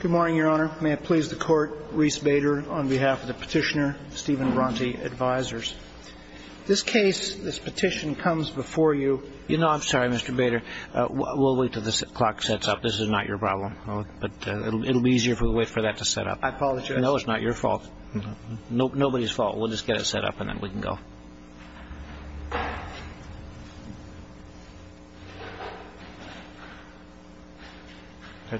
Good morning, Your Honor. May it please the Court, Reese Bader on behalf of the Petitioner, Stephen Bronte Advisors. This case, this petition comes before you. You know, I'm sorry, Mr. Bader. We'll wait till the clock sets up. This is not your problem. But it'll be easier if we wait for that to set up. I apologize. No, it's not your fault. Nobody's fault. We'll just get it set up and then we can go.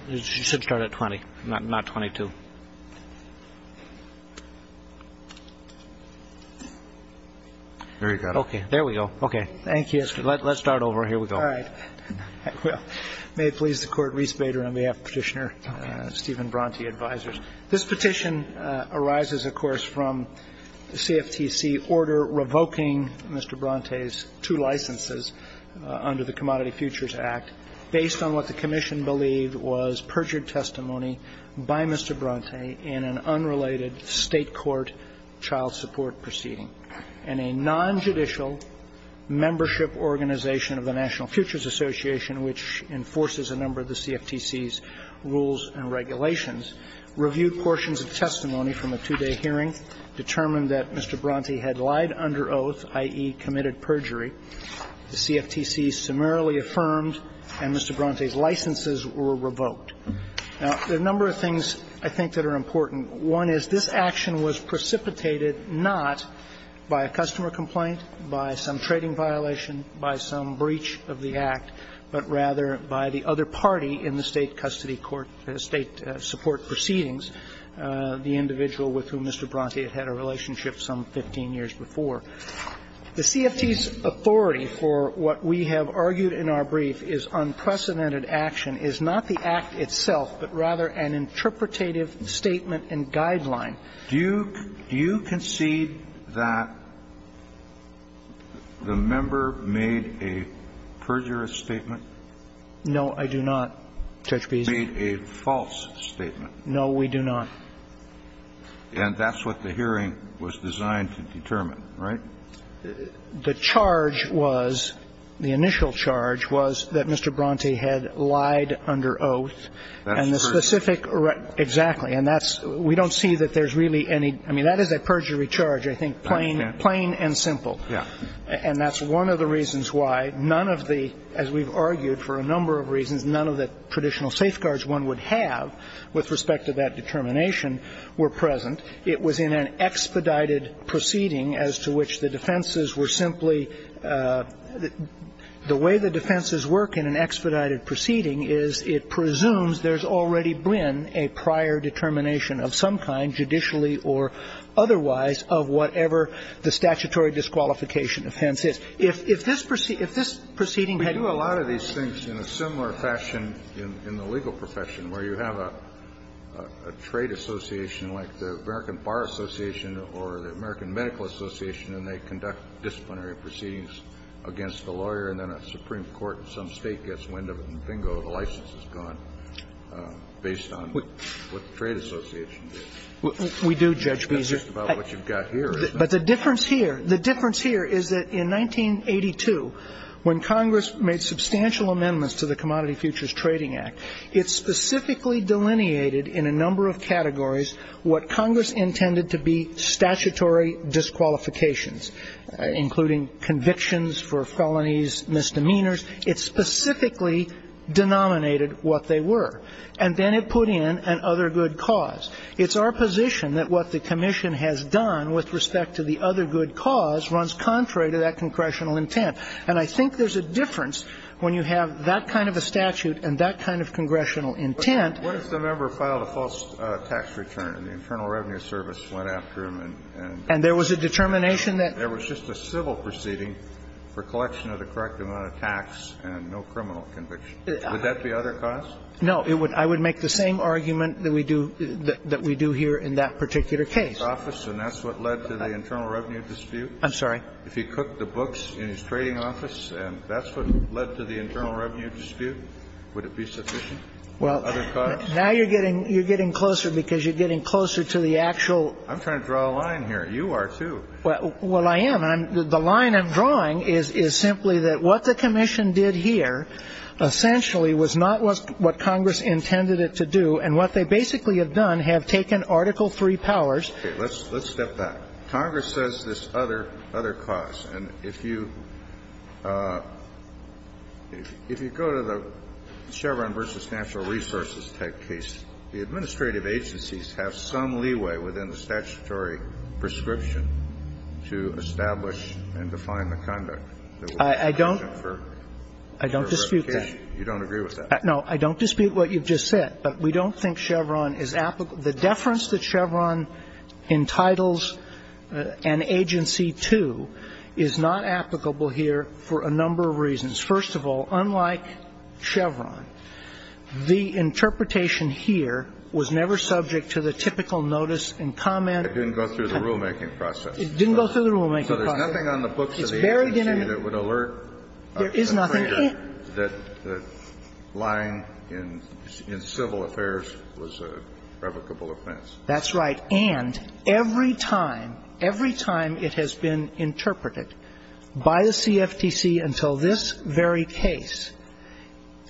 You should start at 20, not 22. There you go. Okay. There we go. Okay. Thank you. Let's start over. Here we go. All right. May it please the Court, Reese Bader on behalf of the Petitioner, Stephen Bronte Advisors. This petition arises, of course, from the CFTC order revoking Mr. Bronte's two licenses under the Commodity Futures Act based on what the commission believed was perjured testimony by Mr. Bronte in an unrelated State court child support proceeding. And a nonjudicial membership organization of the National Futures Association, which enforces a number of the CFTC's rules and regulations, reviewed portions of testimony from a two-day hearing, determined that Mr. Bronte had lied under oath, i.e., committed perjury, the CFTC summarily affirmed, and Mr. Bronte's licenses were revoked. Now, there are a number of things, I think, that are important. One is this action was precipitated not by a customer complaint, by some trading violation, by some breach of the Act, but rather by the other party in the State custody court State support proceedings, the individual with whom Mr. Bronte had had a relationship some 15 years before. The CFTC's authority for what we have argued in our brief is unprecedented action is not the Act itself, but rather an interpretative statement and guideline. Do you concede that the member made a perjurous statement? No, I do not, Judge Beeson. Made a false statement. No, we do not. And that's what the hearing was designed to determine, right? The charge was, the initial charge was, that Mr. Bronte had lied under oath. And the specific... That's perjury. Exactly. And that's we don't see that there's really any. I mean, that is a perjury charge, I think, plain and simple. Yeah. And that's one of the reasons why none of the, as we've argued for a number of reasons, none of the traditional safeguards one would have with respect to that determination were present. It was in an expedited proceeding as to which the defenses were simply the way the defenses work in an expedited proceeding is it presumes there's already been a prior determination of some kind, judicially or otherwise, of whatever the statutory disqualification offense is. If this proceeding had... We do a lot of these things in a similar fashion in the legal profession, where you have a trade association like the American Bar Association or the American Medical Association and they conduct disciplinary proceedings against the lawyer and then a Supreme Court in some state gets wind of it and bingo, the license is gone based on what the trade association did. We do, Judge Beezer. That's just about what you've got here, isn't it? But the difference here, the difference here is that in 1982, when Congress made substantial amendments to the Commodity Futures Trading Act, it specifically delineated in a number of categories what Congress intended to be statutory disqualifications, including convictions for felonies, misdemeanors. It specifically denominated what they were. And then it put in an other good cause. It's our position that what the commission has done with respect to the other good cause runs contrary to that congressional intent. And I think there's a difference when you have that kind of a statute and that kind of congressional intent. Kennedy. But what if the member filed a false tax return and the Internal Revenue Service went after him and there was a determination that there was just a civil proceeding for collection of the correct amount of tax and no criminal conviction? Would that be other cause? No. I would make the same argument that we do here in that particular case. And that's what led to the Internal Revenue dispute? I'm sorry. If he cooked the books in his trading office and that's what led to the Internal Revenue dispute, would it be sufficient? Well, now you're getting closer because you're getting closer to the actual. I'm trying to draw a line here. You are, too. Well, I am. The line I'm drawing is simply that what the commission did here essentially was not what Congress intended it to do. And what they basically have done, have taken Article III powers. Okay. Let's step back. Congress says this is other cause. And if you go to the Chevron v. Natural Resources type case, the administrative agencies have some leeway within the statutory prescription to establish and define the conduct. I don't. I don't dispute that. You don't agree with that? No. I don't dispute what you just said. But we don't think Chevron is applicable. The deference that Chevron entitles an agency to is not applicable here for a number of reasons. First of all, unlike Chevron, the interpretation here was never subject to the typical notice and comment. It didn't go through the rulemaking process. It didn't go through the rulemaking process. So there's nothing on the books of the agency that would alert a trader that lying in civil affairs was a revocable offense. That's right. And every time, every time it has been interpreted by the CFTC until this very case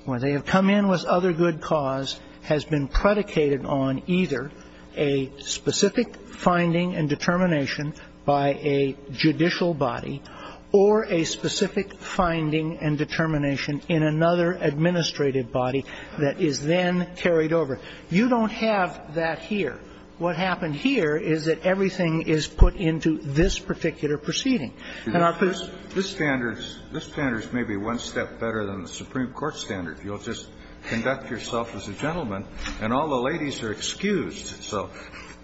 where they have come in with other good cause has been predicated on either a specific finding and determination by a judicial body or a specific finding and determination in another administrative body that is then carried over. You don't have that here. What happened here is that everything is put into this particular proceeding. And our first ---- This standard is maybe one step better than the Supreme Court standard. You'll just conduct yourself as a gentleman, and all the ladies are excused. So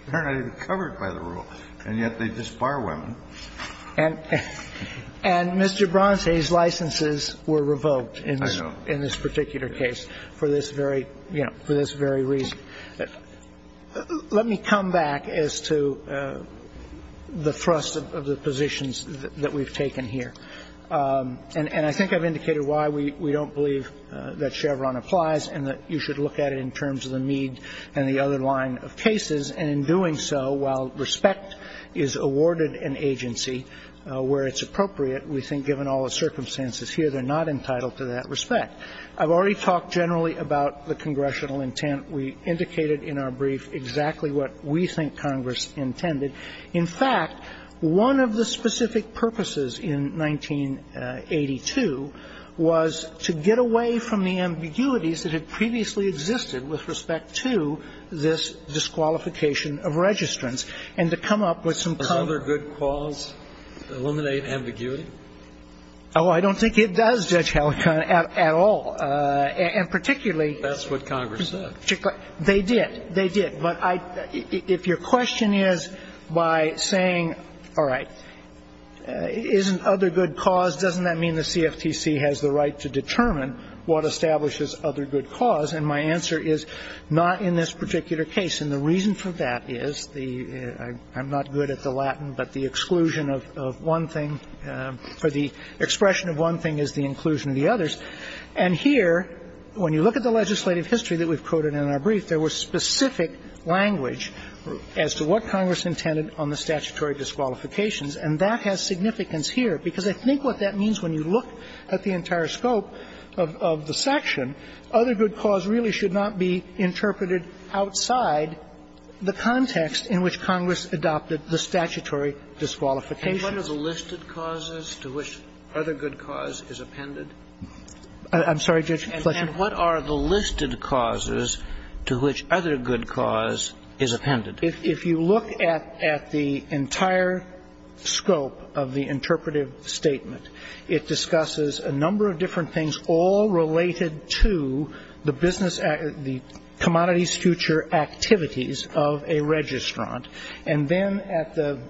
they're not even covered by the rule, and yet they just bar women. And Mr. Bronstein's licenses were revoked in this particular case for this very, you know, for this very reason. Let me come back as to the thrust of the positions that we've taken here. And I think I've indicated why we don't believe that Chevron applies and that you should look at it in terms of the Mead and the other line of cases. And in doing so, while respect is awarded an agency where it's appropriate, we think given all the circumstances here, they're not entitled to that respect. I've already talked generally about the congressional intent. We indicated in our brief exactly what we think Congress intended. In fact, one of the specific purposes in 1982 was to get away from the ambiguities that had previously existed with respect to this disqualification of registrants and to come up with some cover. Another good cause? Eliminate ambiguity? Oh, I don't think it does, Judge Halligan, at all. And particularly. That's what Congress said. They did. They did. But if your question is by saying, all right, isn't other good cause, doesn't that mean the CFTC has the right to determine what establishes other good cause? And my answer is not in this particular case. And the reason for that is the ‑‑ I'm not good at the Latin, but the exclusion of one thing, or the expression of one thing is the inclusion of the others. And here, when you look at the legislative history that we've quoted in our brief, there was specific language as to what Congress intended on the statutory disqualifications. And that has significance here, because I think what that means when you look at the entire scope of the section, other good cause really should not be interpreted outside the context in which Congress adopted the statutory disqualification. And what are the listed causes to which other good cause is appended? I'm sorry, Judge Fletcher? And what are the listed causes to which other good cause is appended? If you look at the entire scope of the interpretive statement, it discusses a number of different things all related to the business ‑‑ the commodities future activities of a registrant. And then at the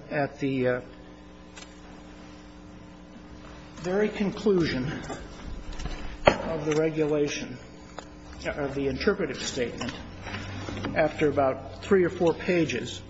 very conclusion of the regulation, of the interpretive statement, after about three or four pages,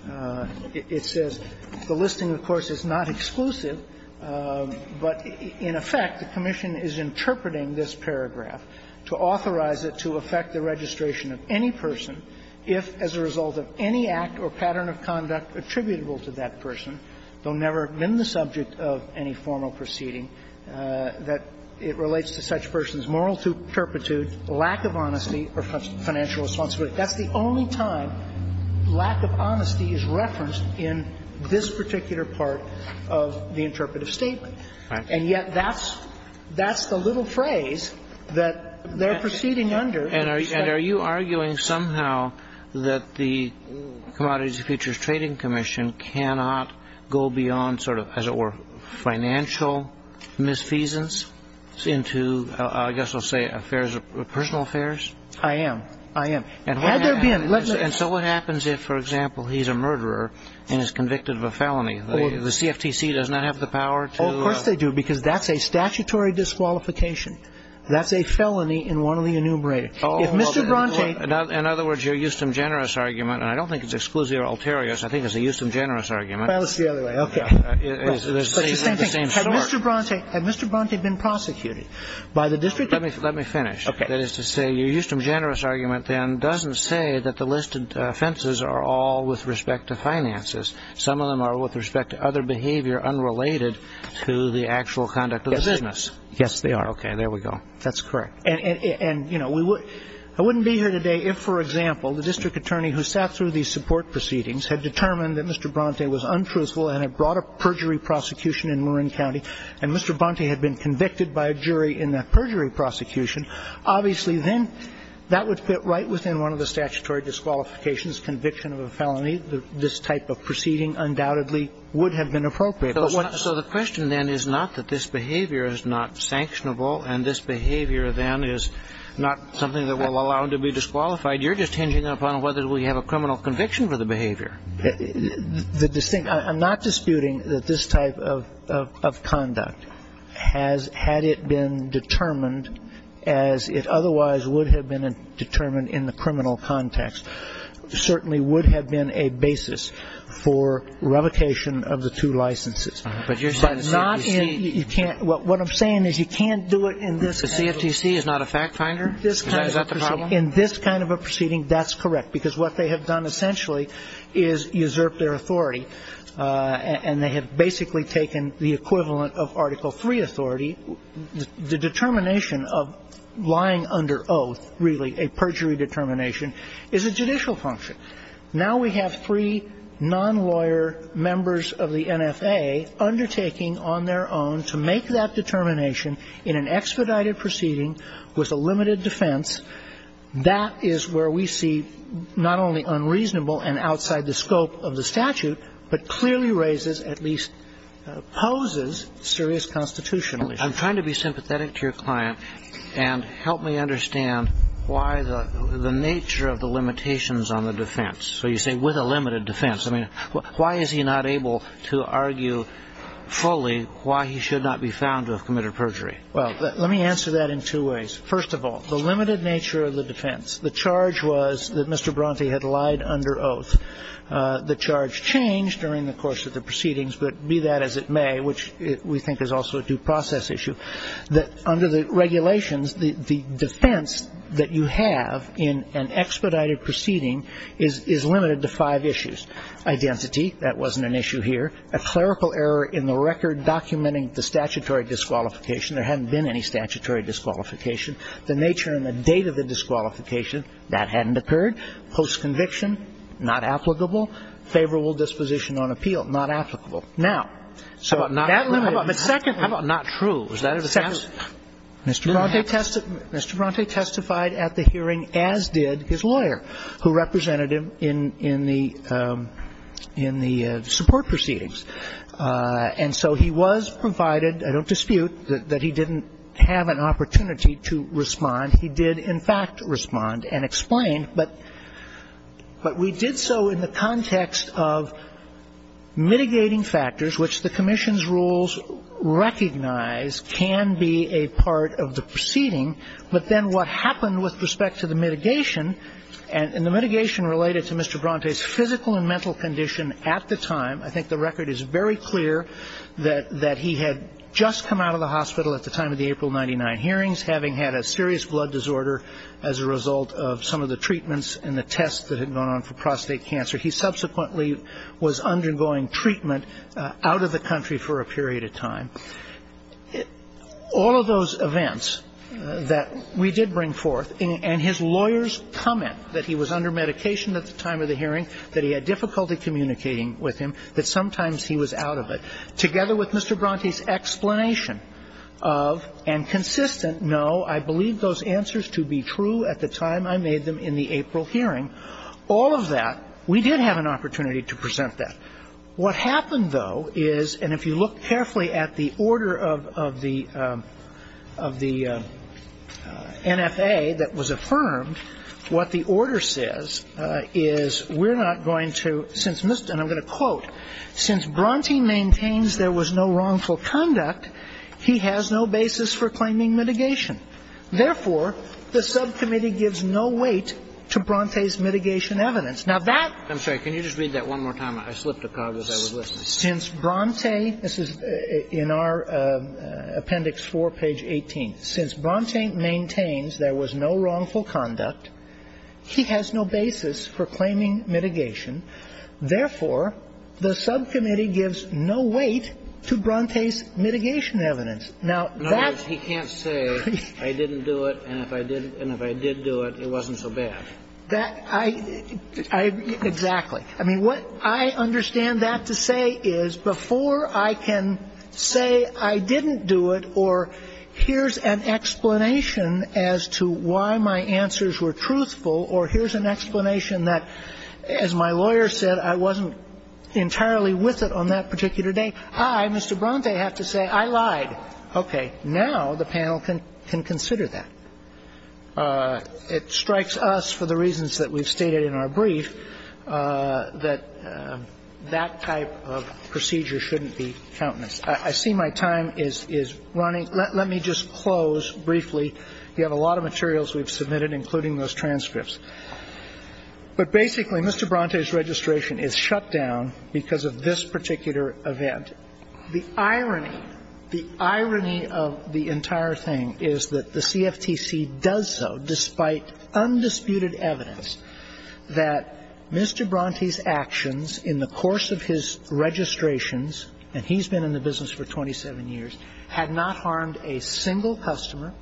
it says, the listing, of course, is not exclusive, but in effect, the commission is interpreting this paragraph to authorize it to affect the registration of any person if, as a result of any act or pattern of conduct attributable to that person, though never in the lack of honesty or financial responsibility. That's the only time lack of honesty is referenced in this particular part of the interpretive statement. And yet that's the little phrase that they're proceeding under. And are you arguing somehow that the Commodities and Futures Trading Commission cannot go beyond sort of, as it were, financial misfeasance into, I guess I'll say, personal affairs? I am. I am. Had there been ‑‑ And so what happens if, for example, he's a murderer and is convicted of a felony? The CFTC does not have the power to ‑‑ Oh, of course they do, because that's a statutory disqualification. That's a felony in one of the enumerated. If Mr. Bronte ‑‑ In other words, your Euston Generous argument, and I don't think it's exclusive or ulterior, I think it's a Euston Generous argument. Well, it's the other way. Okay. But it's the same thing. Had Mr. Bronte been prosecuted by the district ‑‑ Let me finish. Okay. That is to say, your Euston Generous argument, then, doesn't say that the listed offenses are all with respect to finances. Some of them are with respect to other behavior unrelated to the actual conduct of the business. Yes, they are. Okay, there we go. That's correct. And, you know, I wouldn't be here today if, for example, the district attorney who sat through these support proceedings had determined that Mr. Bronte was untruthful and had brought a perjury prosecution in Marin County, and Mr. Bronte had been convicted by a jury in that perjury prosecution, obviously then that would fit right within one of the statutory disqualifications, conviction of a felony. This type of proceeding undoubtedly would have been appropriate. So the question, then, is not that this behavior is not sanctionable and this behavior, then, is not something that will allow him to be disqualified. You're just hinging upon whether we have a criminal conviction for the behavior. I'm not disputing that this type of conduct, had it been determined as it otherwise would have been determined in the criminal context, certainly would have been a basis for revocation of the two licenses. But you're saying the CFTC. What I'm saying is you can't do it in this kind of a proceeding. The CFTC is not a fact finder? Is that the problem? In this kind of a proceeding, that's correct, because what they have done essentially is usurp their authority, and they have basically taken the equivalent of Article III authority. The determination of lying under oath, really a perjury determination, is a judicial function. Now we have three non-lawyer members of the NFA undertaking on their own to make that determination in an expedited proceeding with a limited defense. That is where we see not only unreasonable and outside the scope of the statute, but clearly raises, at least poses, serious constitutional issues. I'm trying to be sympathetic to your client and help me understand why the nature of the limitations on the defense. So you say with a limited defense. I mean, why is he not able to argue fully why he should not be found to have committed perjury? Well, let me answer that in two ways. First of all, the limited nature of the defense. The charge was that Mr. Bronte had lied under oath. The charge changed during the course of the proceedings, but be that as it may, which we think is also a due process issue, that under the regulations, the defense that you have in an expedited proceeding is limited to five issues. Identity, that wasn't an issue here. A clerical error in the record documenting the statutory disqualification. There hadn't been any statutory disqualification. The nature and the date of the disqualification, that hadn't occurred. Post-conviction, not applicable. Favorable disposition on appeal, not applicable. Now, so that limited defense. How about not true? Is that a defense? Mr. Bronte testified at the hearing, as did his lawyer who represented him in the support proceedings. And so he was provided, I don't dispute, that he didn't have an opportunity to respond. He did, in fact, respond and explain. But we did so in the context of mitigating factors, which the commission's rules recognize can be a part of the proceeding. But then what happened with respect to the mitigation, and the mitigation related to Mr. Bronte's physical and mental condition at the time, I think the record is very clear that he had just come out of the hospital at the time of the April 99 hearings, having had a serious blood disorder as a result of some of the treatments and the tests that had gone on for prostate cancer. He subsequently was undergoing treatment out of the country for a period of time. All of those events that we did bring forth, and his lawyer's comment that he was under medication at the time of the hearing, that he had difficulty communicating with him, that sometimes he was out of it, together with Mr. Bronte's explanation of, and consistent, no, I believe those answers to be true at the time I made them in the April hearing. All of that, we did have an opportunity to present that. What happened, though, is, and if you look carefully at the order of the NFA that was affirmed, what the order says is we're not going to, and I'm going to quote, since Bronte maintains there was no wrongful conduct, he has no basis for claiming mitigation. Therefore, the subcommittee gives no weight to Bronte's mitigation evidence. Now, that ---- I'm sorry. Can you just read that one more time? I slipped a cog as I was listening. Since Bronte, this is in our appendix 4, page 18. Since Bronte maintains there was no wrongful conduct, he has no basis for claiming mitigation. Therefore, the subcommittee gives no weight to Bronte's mitigation evidence. Now, that ---- In other words, he can't say I didn't do it, and if I did do it, it wasn't so bad. That, I, exactly. I mean, what I understand that to say is before I can say I didn't do it or here's an explanation as to why my answers were truthful or here's an explanation that, as my lawyer said, I wasn't entirely with it on that particular day, I, Mr. Bronte, have to say I lied. Okay. Now the panel can consider that. It strikes us, for the reasons that we've stated in our brief, that that type of procedure shouldn't be countenance. I see my time is running. Let me just close briefly. We have a lot of materials we've submitted, including those transcripts. But basically, Mr. Bronte's registration is shut down because of this particular event. And the irony, the irony of the entire thing is that the CFTC does so despite undisputed evidence that Mr. Bronte's actions in the course of his registrations, and he's been in the business for 27 years, had not harmed a single customer.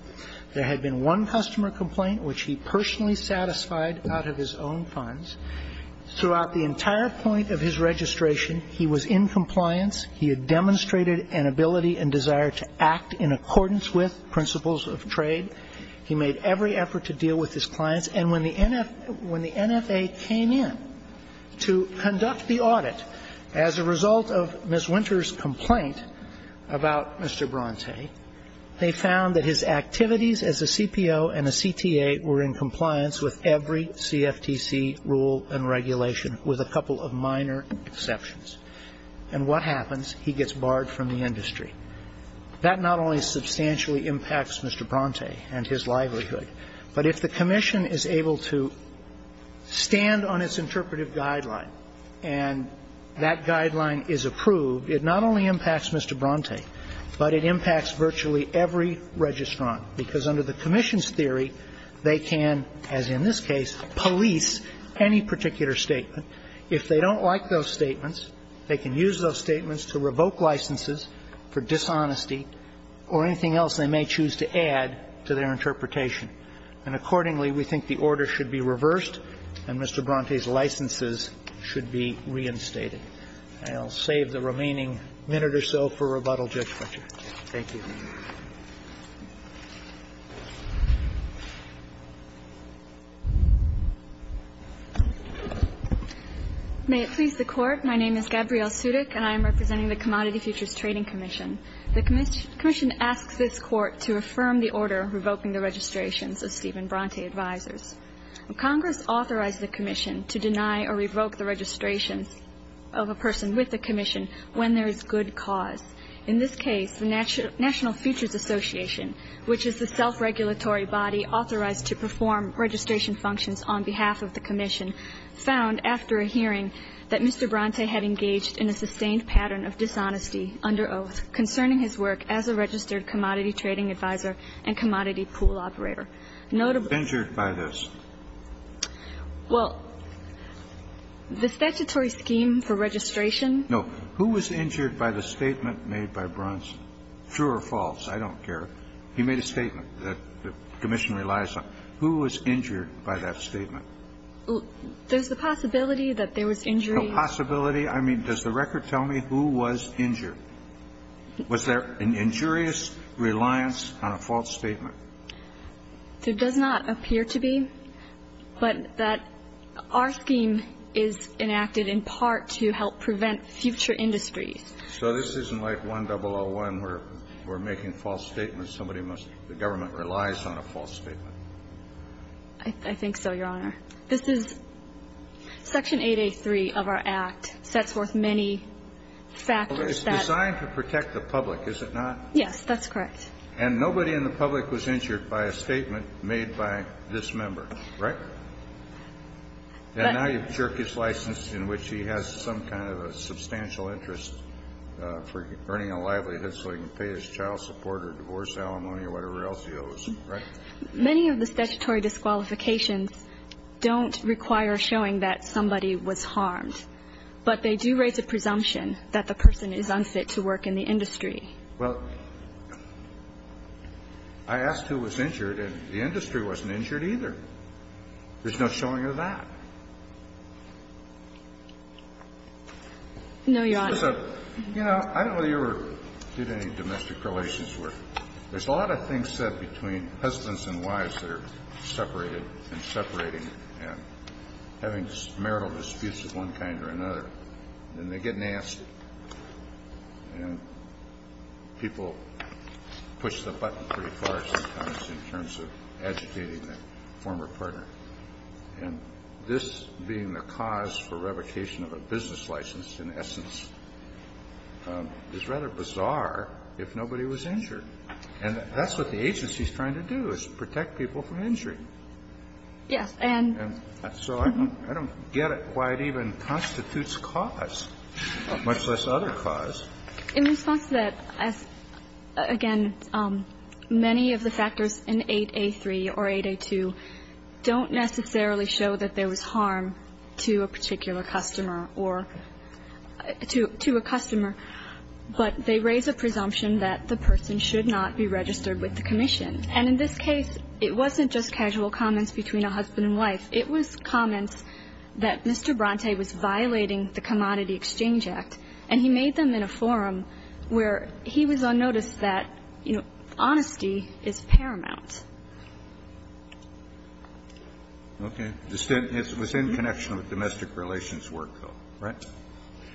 There had been one customer complaint which he personally satisfied out of his own funds. Throughout the entire point of his registration, he was in compliance. He had demonstrated an ability and desire to act in accordance with principles of trade. He made every effort to deal with his clients. And when the NFA came in to conduct the audit, as a result of Ms. Winter's complaint about Mr. Bronte, they found that his activities as a CPO and a CTA were in compliance with every CFTC rule and regulation, with a couple of minor exceptions. And what happens? He gets barred from the industry. That not only substantially impacts Mr. Bronte and his livelihood, but if the commission is able to stand on its interpretive guideline and that guideline is approved, it not only impacts Mr. Bronte, but it impacts virtually every registrant. Because under the commission's theory, they can, as in this case, police any particular statement. If they don't like those statements, they can use those statements to revoke licenses for dishonesty or anything else they may choose to add to their interpretation. And accordingly, we think the order should be reversed and Mr. Bronte's licenses should be reinstated. And I'll save the remaining minute or so for rebuttal, Judge Fletcher. Thank you. May it please the Court. My name is Gabrielle Sudik, and I am representing the Commodity Futures Trading Commission. The commission asks this Court to affirm the order revoking the registrations of Stephen Bronte Advisors. Congress authorized the commission to deny or revoke the registrations of a person with the commission when there is good cause. The commission also authorized the commission to deny or revoke the registrations of a person with the National Futures Association, which is the self-regulatory body authorized to perform registration functions on behalf of the commission, found after a hearing that Mr. Bronte had engaged in a sustained pattern of dishonesty under oath concerning his work as a registered commodity trading advisor and commodity pool operator. Notable. Injured by this? Well, the statutory scheme for registration. No. Who was injured by the statement made by Bronte? True or false? I don't care. He made a statement that the commission relies on. Who was injured by that statement? There's the possibility that there was injury. Possibility? I mean, does the record tell me who was injured? Was there an injurious reliance on a false statement? There does not appear to be, but that our scheme is enacted in part to help prevent future industries. So this isn't like 1001 where we're making false statements. Somebody must be the government relies on a false statement. I think so, Your Honor. Section 803 of our act sets forth many factors. It's designed to protect the public, is it not? Yes, that's correct. And nobody in the public was injured by a statement made by this member, right? And now you've jerked his license in which he has some kind of a substantial interest for earning a livelihood so he can pay his child support or divorce alimony or whatever else he owes, right? Many of the statutory disqualifications don't require showing that somebody was harmed, but they do raise a presumption that the person is unfit to work in the industry. Well, I asked who was injured, and the industry wasn't injured either. There's no showing of that. No, Your Honor. You know, I don't know whether you ever did any domestic relations work. There's a lot of things said between husbands and wives that are separated and separating and having marital disputes of one kind or another. And they get nasty. And people push the button pretty far sometimes in terms of agitating the former partner. And this being the cause for revocation of a business license, in essence, is rather the agency trying to do is protect people from injury. Yes. And so I don't get it why it even constitutes cause, much less other cause. In response to that, again, many of the factors in 8A3 or 8A2 don't necessarily show that there was harm to a particular customer or to a customer, but they raise a presumption that the person should not be registered with the commission. And in this case, it wasn't just casual comments between a husband and wife. It was comments that Mr. Bronte was violating the Commodity Exchange Act, and he made them in a forum where he was unnoticed that, you know, honesty is paramount. Okay. It was in connection with domestic relations work, though, right?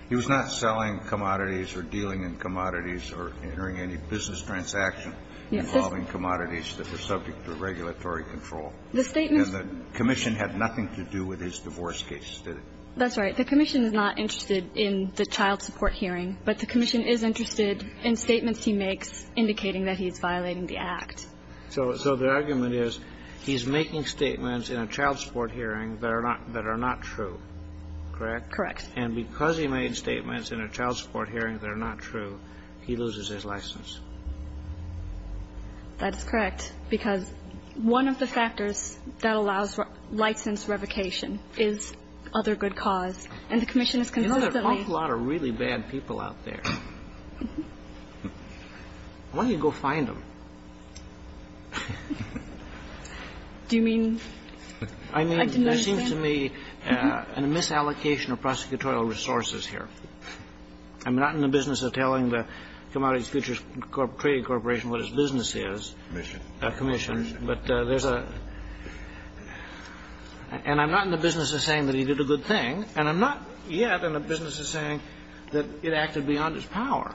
He was not selling commodities or dealing in commodities or entering any business transaction involving commodities that were subject to regulatory control. The statement was that the commission had nothing to do with his divorce case, did it? That's right. The commission is not interested in the child support hearing, but the commission is interested in statements he makes indicating that he is violating the Act. So the argument is he's making statements in a child support hearing that are not true. Correct? Correct. And because he made statements in a child support hearing that are not true, he loses his license. That is correct, because one of the factors that allows license revocation is other good cause. And the commission is consistently ---- There's an awful lot of really bad people out there. Why don't you go find them? Do you mean? I didn't understand. I'm not in the business of telling the Commodities Futures Trading Corporation what its business is. Commission. Commission. But there's a ---- And I'm not in the business of saying that he did a good thing, and I'm not yet in the business of saying that it acted beyond its power.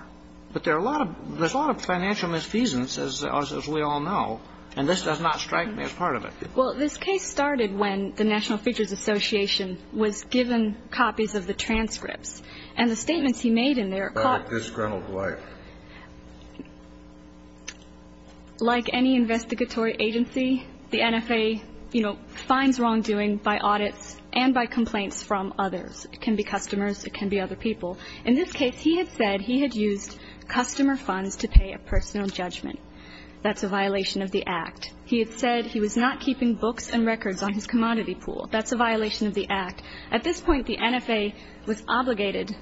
But there are a lot of ---- there's a lot of financial misfeasance, as we all know, and this does not strike me as part of it. Well, this case started when the National Futures Association was given copies of the transcripts. And the statements he made in there caught ---- This is Grenell Dwight. Like any investigatory agency, the NFA, you know, finds wrongdoing by audits and by complaints from others. It can be customers. It can be other people. In this case, he had said he had used customer funds to pay a personal judgment. That's a violation of the Act. He had said he was not keeping books and records on his commodity pool. That's a violation of the Act. At this point, the NFA was obligated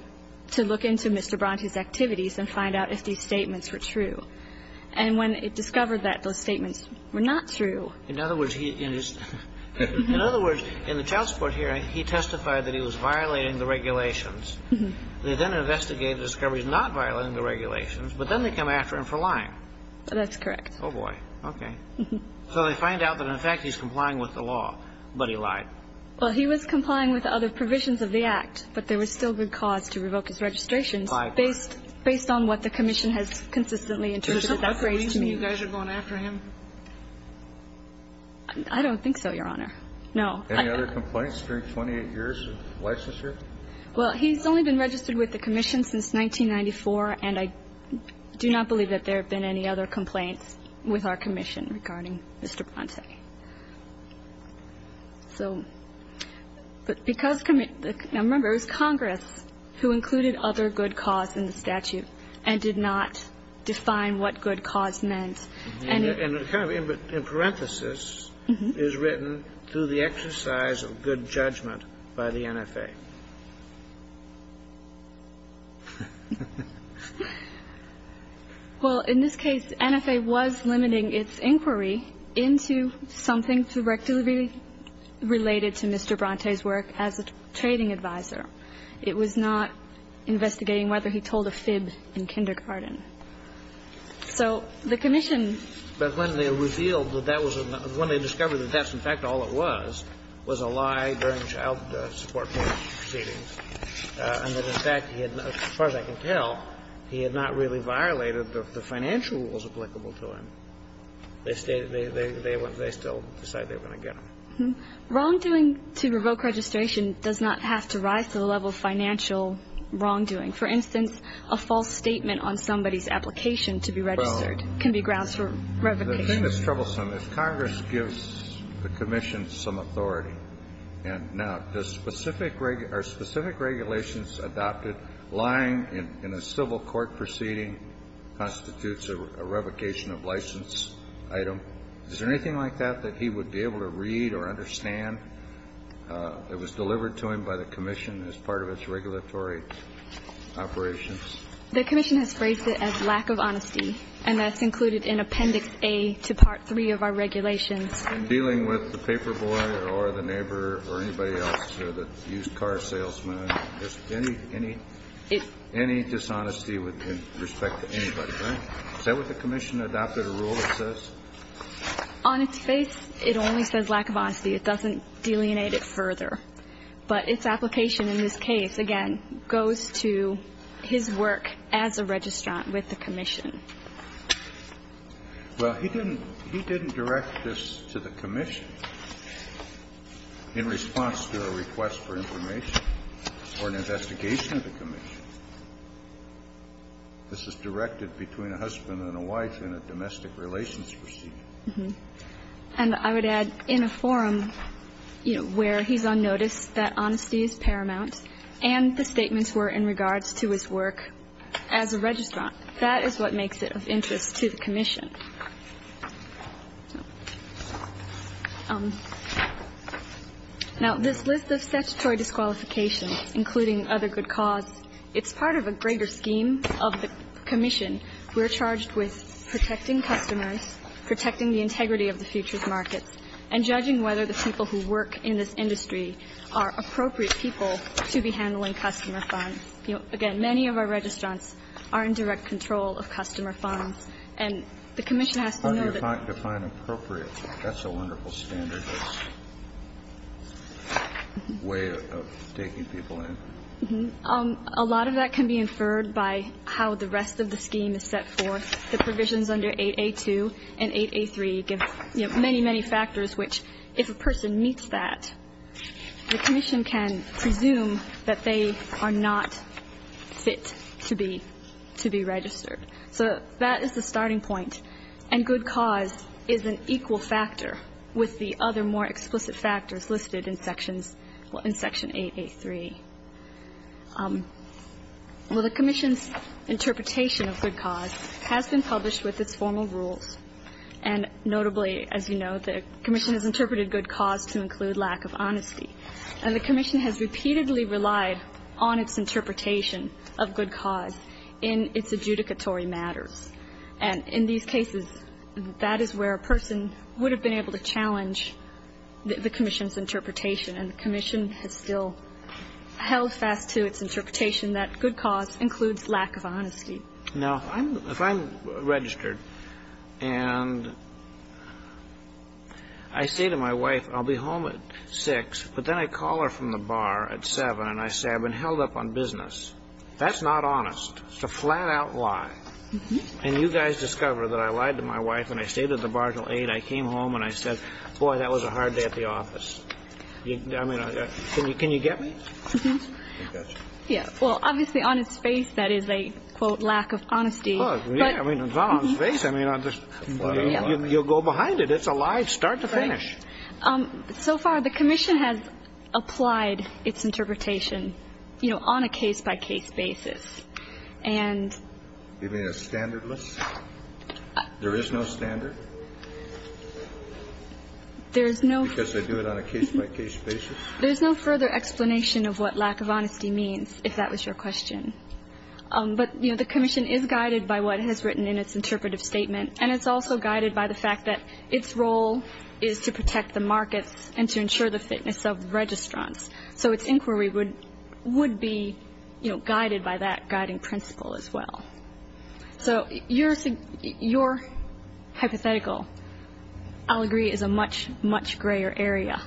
to look into Mr. Bronte's activities and find out if these statements were true. And when it discovered that those statements were not true ---- In other words, he ---- In other words, in the child support hearing, he testified that he was violating the regulations. They then investigated the discoveries not violating the regulations, but then they come after him for lying. That's correct. Oh, boy. Okay. So they find out that, in fact, he's complying with the law, but he lied. Well, he was complying with other provisions of the Act, but there was still good cause to revoke his registrations ---- Five. ---- based on what the commission has consistently interpreted as a phrase to me. Does it look like you guys are going after him? I don't think so, Your Honor. No. Any other complaints during 28 years of licensure? Well, he's only been registered with the commission since 1994, and I do not believe that there have been any other complaints with our commission regarding Mr. Bronte. So ---- But because ---- Now, remember, it was Congress who included other good cause in the statute and did not define what good cause meant. And ---- And it kind of, in parenthesis, is written, Well, in this case, NFA was limiting its inquiry into something directly related to Mr. Bronte's work as a trading advisor. It was not investigating whether he told a fib in kindergarten. So the commission ---- But when they revealed that that was a ---- when they discovered that that's, in fact, all it was, was a lie during child support proceedings, and that, in fact, he had, as far as I can tell, he had not really violated the financial rules applicable to him, they still decided they were going to get him. Wrongdoing to revoke registration does not have to rise to the level of financial wrongdoing. For instance, a false statement on somebody's application to be registered can be grounds for revocation. The thing that's troublesome is Congress gives the commission some authority. And now, does specific ---- are specific regulations adopted lying in a civil court proceeding constitutes a revocation of license item? Is there anything like that that he would be able to read or understand that was delivered to him by the commission as part of its regulatory operations? The commission has phrased it as lack of honesty, and that's included in Appendix A to Part 3 of our regulations. In dealing with the paperboy or the neighbor or anybody else or the used car salesman, any ---- any dishonesty with respect to anybody, right? Is that what the commission adopted, a rule that says? On its face, it only says lack of honesty. It doesn't delineate it further. But its application in this case, again, goes to his work as a registrant with the commission. Well, he didn't ---- he didn't direct this to the commission in response to a request for information or an investigation of the commission. This is directed between a husband and a wife in a domestic relations procedure. And I would add, in a forum, you know, where he's on notice that honesty is paramount and the statements were in regards to his work as a registrant, that is what makes it of interest to the commission. Now, this list of statutory disqualifications, including other good cause, it's part of a greater scheme of the commission. We're charged with protecting customers, protecting the integrity of the futures markets, and judging whether the people who work in this industry are appropriate people to be handling customer funds. Again, many of our registrants are in direct control of customer funds. And the commission has to know that ---- Define appropriate. That's a wonderful standard way of taking people in. A lot of that can be inferred by how the rest of the scheme is set forth. The provisions under 8A2 and 8A3 give, you know, many, many factors which, if a person meets that, the commission can presume that they are not fit to be registered. So that is the starting point. And good cause is an equal factor with the other more explicit factors listed in Sections 8, 8, 3. Well, the commission's interpretation of good cause has been published with its formal rules. And notably, as you know, the commission has interpreted good cause to include lack of honesty. And the commission has repeatedly relied on its interpretation of good cause in its adjudicatory matters. And in these cases, that is where a person would have been able to challenge the commission has still held fast to its interpretation that good cause includes lack of honesty. Now, if I'm registered and I say to my wife, I'll be home at 6, but then I call her from the bar at 7 and I say, I've been held up on business, that's not honest. It's a flat-out lie. And you guys discover that I lied to my wife and I stayed at the bar until 8, I came home and I said, boy, that was a hard day at the office. I mean, can you get me? Mm-hmm. Yeah. Well, obviously, on its face, that is a, quote, lack of honesty. Oh, yeah. I mean, it's not on its face. I mean, you'll go behind it. It's a lie start to finish. So far, the commission has applied its interpretation, you know, on a case-by-case basis. And you mean a standard list? There is no standard? Because they do it on a case-by-case basis? There's no further explanation of what lack of honesty means, if that was your question. But, you know, the commission is guided by what it has written in its interpretive statement, and it's also guided by the fact that its role is to protect the markets and to ensure the fitness of registrants. So its inquiry would be, you know, guided by that guiding principle as well. So your hypothetical, I'll agree, is a much, much grayer area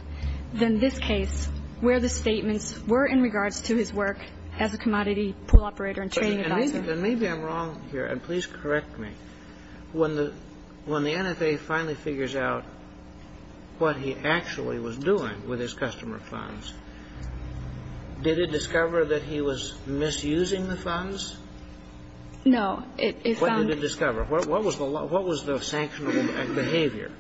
than this case, where the statements were in regards to his work as a commodity pool operator and trading advisor. And maybe I'm wrong here, and please correct me. When the NFA finally figures out what he actually was doing with his customer funds, did it discover? No. What did it discover? What was the sanctionable behavior?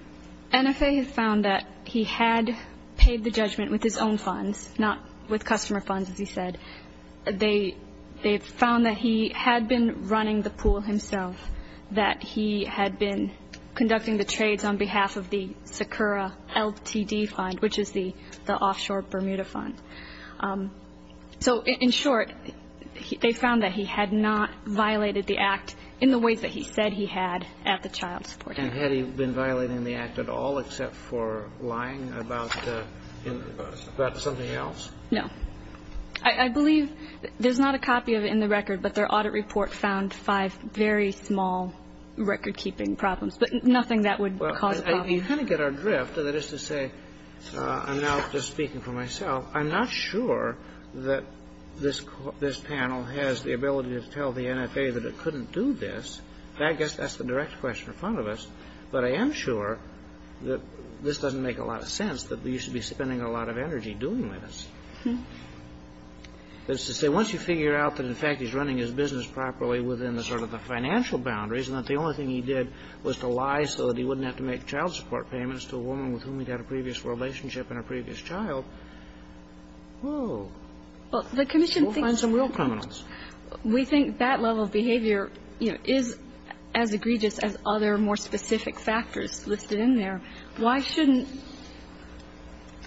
NFA had found that he had paid the judgment with his own funds, not with customer funds, as you said. They found that he had been running the pool himself, that he had been conducting the trades on behalf of the Sakura LTD fund, which is the offshore Bermuda fund. So in short, they found that he had not violated the act in the ways that he said he had at the child support. And had he been violating the act at all except for lying about something else? No. I believe there's not a copy of it in the record, but their audit report found five very small record-keeping problems, but nothing that would cause a problem. You kind of get our drift. That is to say, I'm now just speaking for myself. I'm not sure that this panel has the ability to tell the NFA that it couldn't do this. I guess that's the direct question in front of us. But I am sure that this doesn't make a lot of sense, that he used to be spending a lot of energy doing this. That is to say, once you figure out that, in fact, he's running his business properly within the sort of the financial boundaries, and that the only thing he did was to lie so that he wouldn't have to make child support payments to a woman with whom he'd had a previous relationship and a previous child, whoa. We'll find some real criminals. We think that level of behavior, you know, is as egregious as other more specific factors listed in there. Why shouldn't,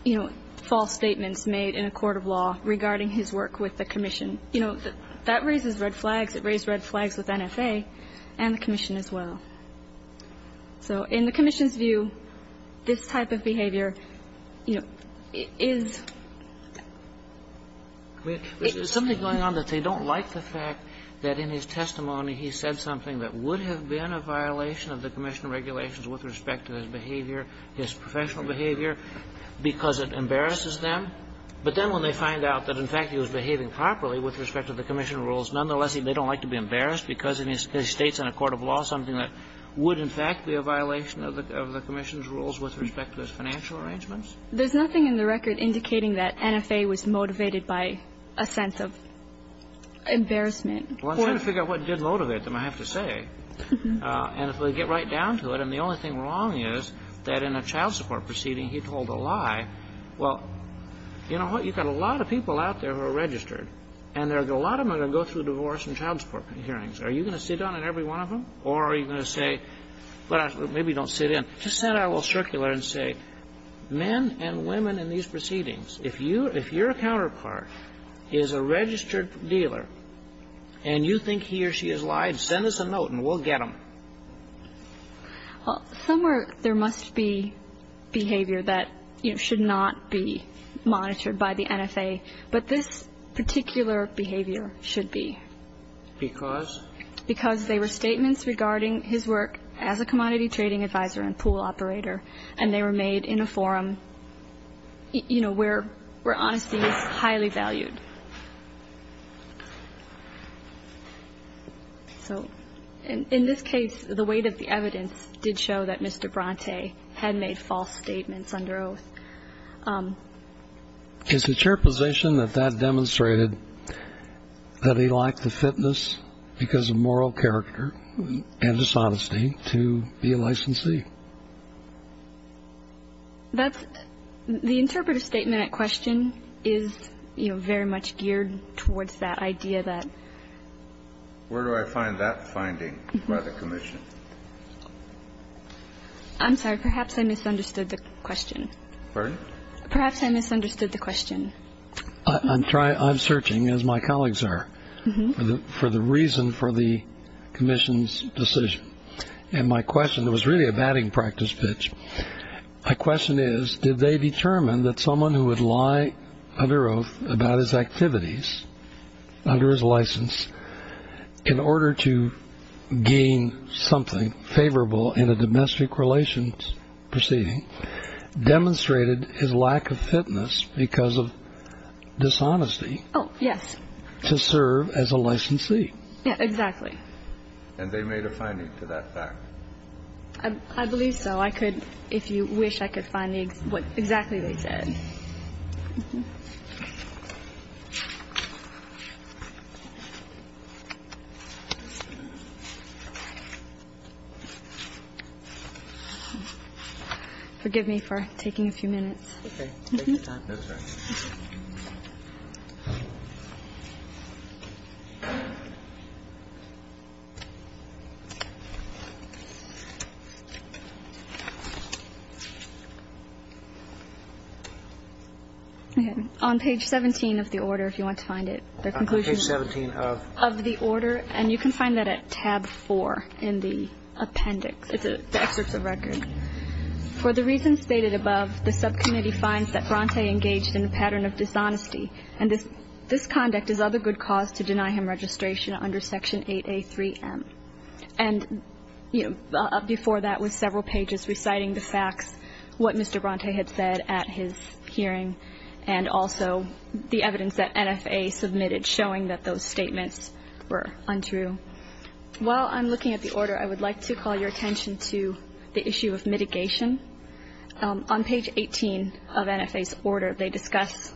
you know, false statements made in a court of law regarding his work with the commission? You know, that raises red flags. It raised red flags with NFA and the commission as well. So in the commission's view, this type of behavior, you know, is ‑‑ There's something going on that they don't like the fact that in his testimony he said something that would have been a violation of the commission regulations with respect to his behavior, his professional behavior, because it embarrasses them. But then when they find out that, in fact, he was behaving properly with respect to the commission rules, nonetheless, they don't like to be embarrassed because he states in a court of law something that would, in fact, be a violation of the commission's rules with respect to his financial arrangements. There's nothing in the record indicating that NFA was motivated by a sense of embarrassment. Well, I'm trying to figure out what did motivate them, I have to say. And if we get right down to it, and the only thing wrong is that in a child support proceeding he told a lie, well, you know what? You've got a lot of people out there who are registered, and a lot of them are going to go through divorce and child support hearings. Are you going to sit down at every one of them? Or are you going to say, well, maybe don't sit in. Just then I will circular and say, men and women in these proceedings, if you're a counterpart, is a registered dealer, and you think he or she has lied, send us a note and we'll get them. Well, somewhere there must be behavior that, you know, should not be monitored by the NFA. But this particular behavior should be. Because? Because they were statements regarding his work as a commodity trading advisor and pool operator, and they were made in a forum, you know, where honesty is highly valued. So in this case, the weight of the evidence did show that Mr. Bronte had made false statements under oath. Is it your position that that demonstrated that he lacked the fitness, because of moral character and dishonesty, to be a licensee? That's the interpretive statement at question is, you know, very much geared towards that idea that. Where do I find that finding by the commission? I'm sorry. Perhaps I misunderstood the question. Pardon? Perhaps I misunderstood the question. I'm searching, as my colleagues are, for the reason for the commission's decision. And my question was really a batting practice pitch. My question is, did they determine that someone who would lie under oath about his activities, under his license, in order to gain something favorable in a domestic relations proceeding, demonstrated his lack of fitness because of dishonesty? Oh, yes. To serve as a licensee. Exactly. And they made a finding to that fact. I believe so. I could, if you wish, I could find what exactly they said. Mm-hmm. Forgive me for taking a few minutes. Okay. On page 17 of the order, if you want to find it. Page 17 of? Of the order. And you can find that at tab 4 in the appendix. It's the excerpts of record. For the reasons stated above, the subcommittee finds that Bronte engaged in a pattern of dishonesty. And this conduct is of a good cause to deny him registration under section 8A3M. And, you know, before that was several pages reciting the facts, what Mr. Bronte had said at his hearing, and also the evidence that NFA submitted showing that those statements were untrue. While I'm looking at the order, I would like to call your attention to the issue of mitigation. On page 18 of NFA's order, they discuss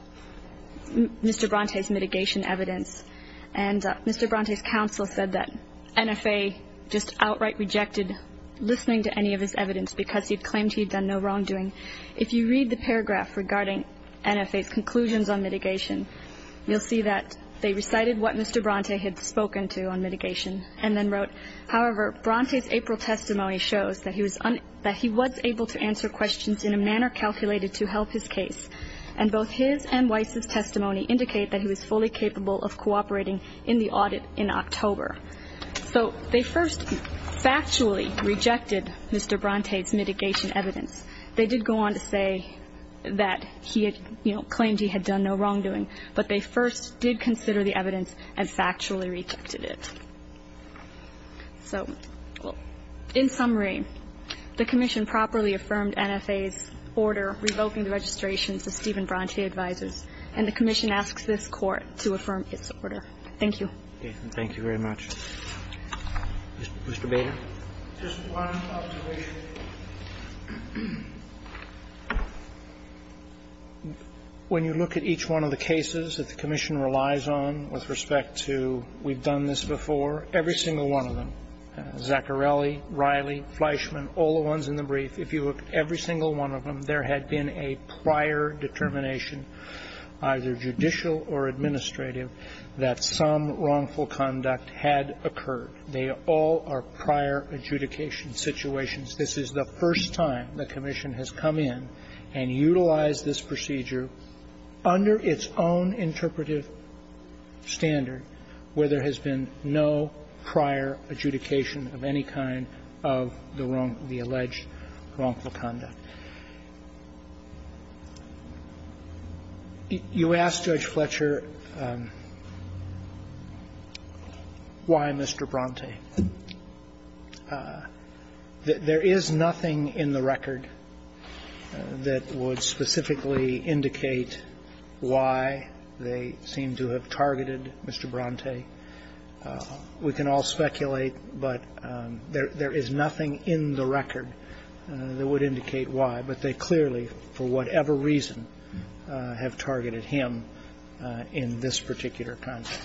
Mr. Bronte's mitigation evidence. And Mr. Bronte's counsel said that NFA just outright rejected listening to any of his evidence because he claimed he'd done no wrongdoing. If you read the paragraph regarding NFA's conclusions on mitigation, you'll see that they recited what Mr. Bronte had spoken to on mitigation and then wrote, however, Bronte's April testimony shows that he was able to answer questions in a manner calculated to help his case. And both his and Weiss's testimony indicate that he was fully capable of cooperating in the audit in October. So they first factually rejected Mr. Bronte's mitigation evidence. They did go on to say that he had, you know, claimed he had done no wrongdoing, but they first did consider the evidence and factually rejected it. So in summary, the Commission properly affirmed NFA's order revoking the registrations that Stephen Bronte advises, and the Commission asks this Court to affirm its order. Thank you. Thank you very much. Mr. Bader. Just one observation. When you look at each one of the cases that the Commission relies on with respect to we've done this before, every single one of them, Zaccarelli, Riley, Fleischman, all the ones in the brief, if you look at every single one of them, there had been a prior determination, either judicial or administrative, that some wrongful conduct had occurred. They all are prior adjudication situations. This is the first time the Commission has come in and utilized this procedure under its own interpretive standard where there has been no prior adjudication of any kind of the alleged wrongful conduct. You asked Judge Fletcher why Mr. Bronte. There is nothing in the record that would specifically indicate why they seem to have targeted Mr. Bronte. We can all speculate, but there is nothing in the record that would indicate why, but they clearly, for whatever reason, have targeted him in this particular context.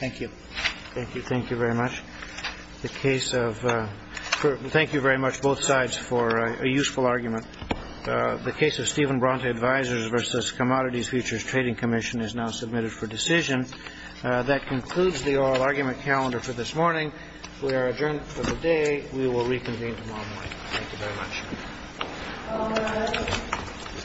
Thank you. Thank you. Thank you very much. Thank you very much, both sides, for a useful argument. The case of Stephen Bronte Advisors v. Commodities Futures Trading Commission is now submitted for decision. That concludes the oral argument calendar for this morning. We are adjourned for the day. We will reconvene tomorrow morning. Thank you very much. Thank you. Thank you.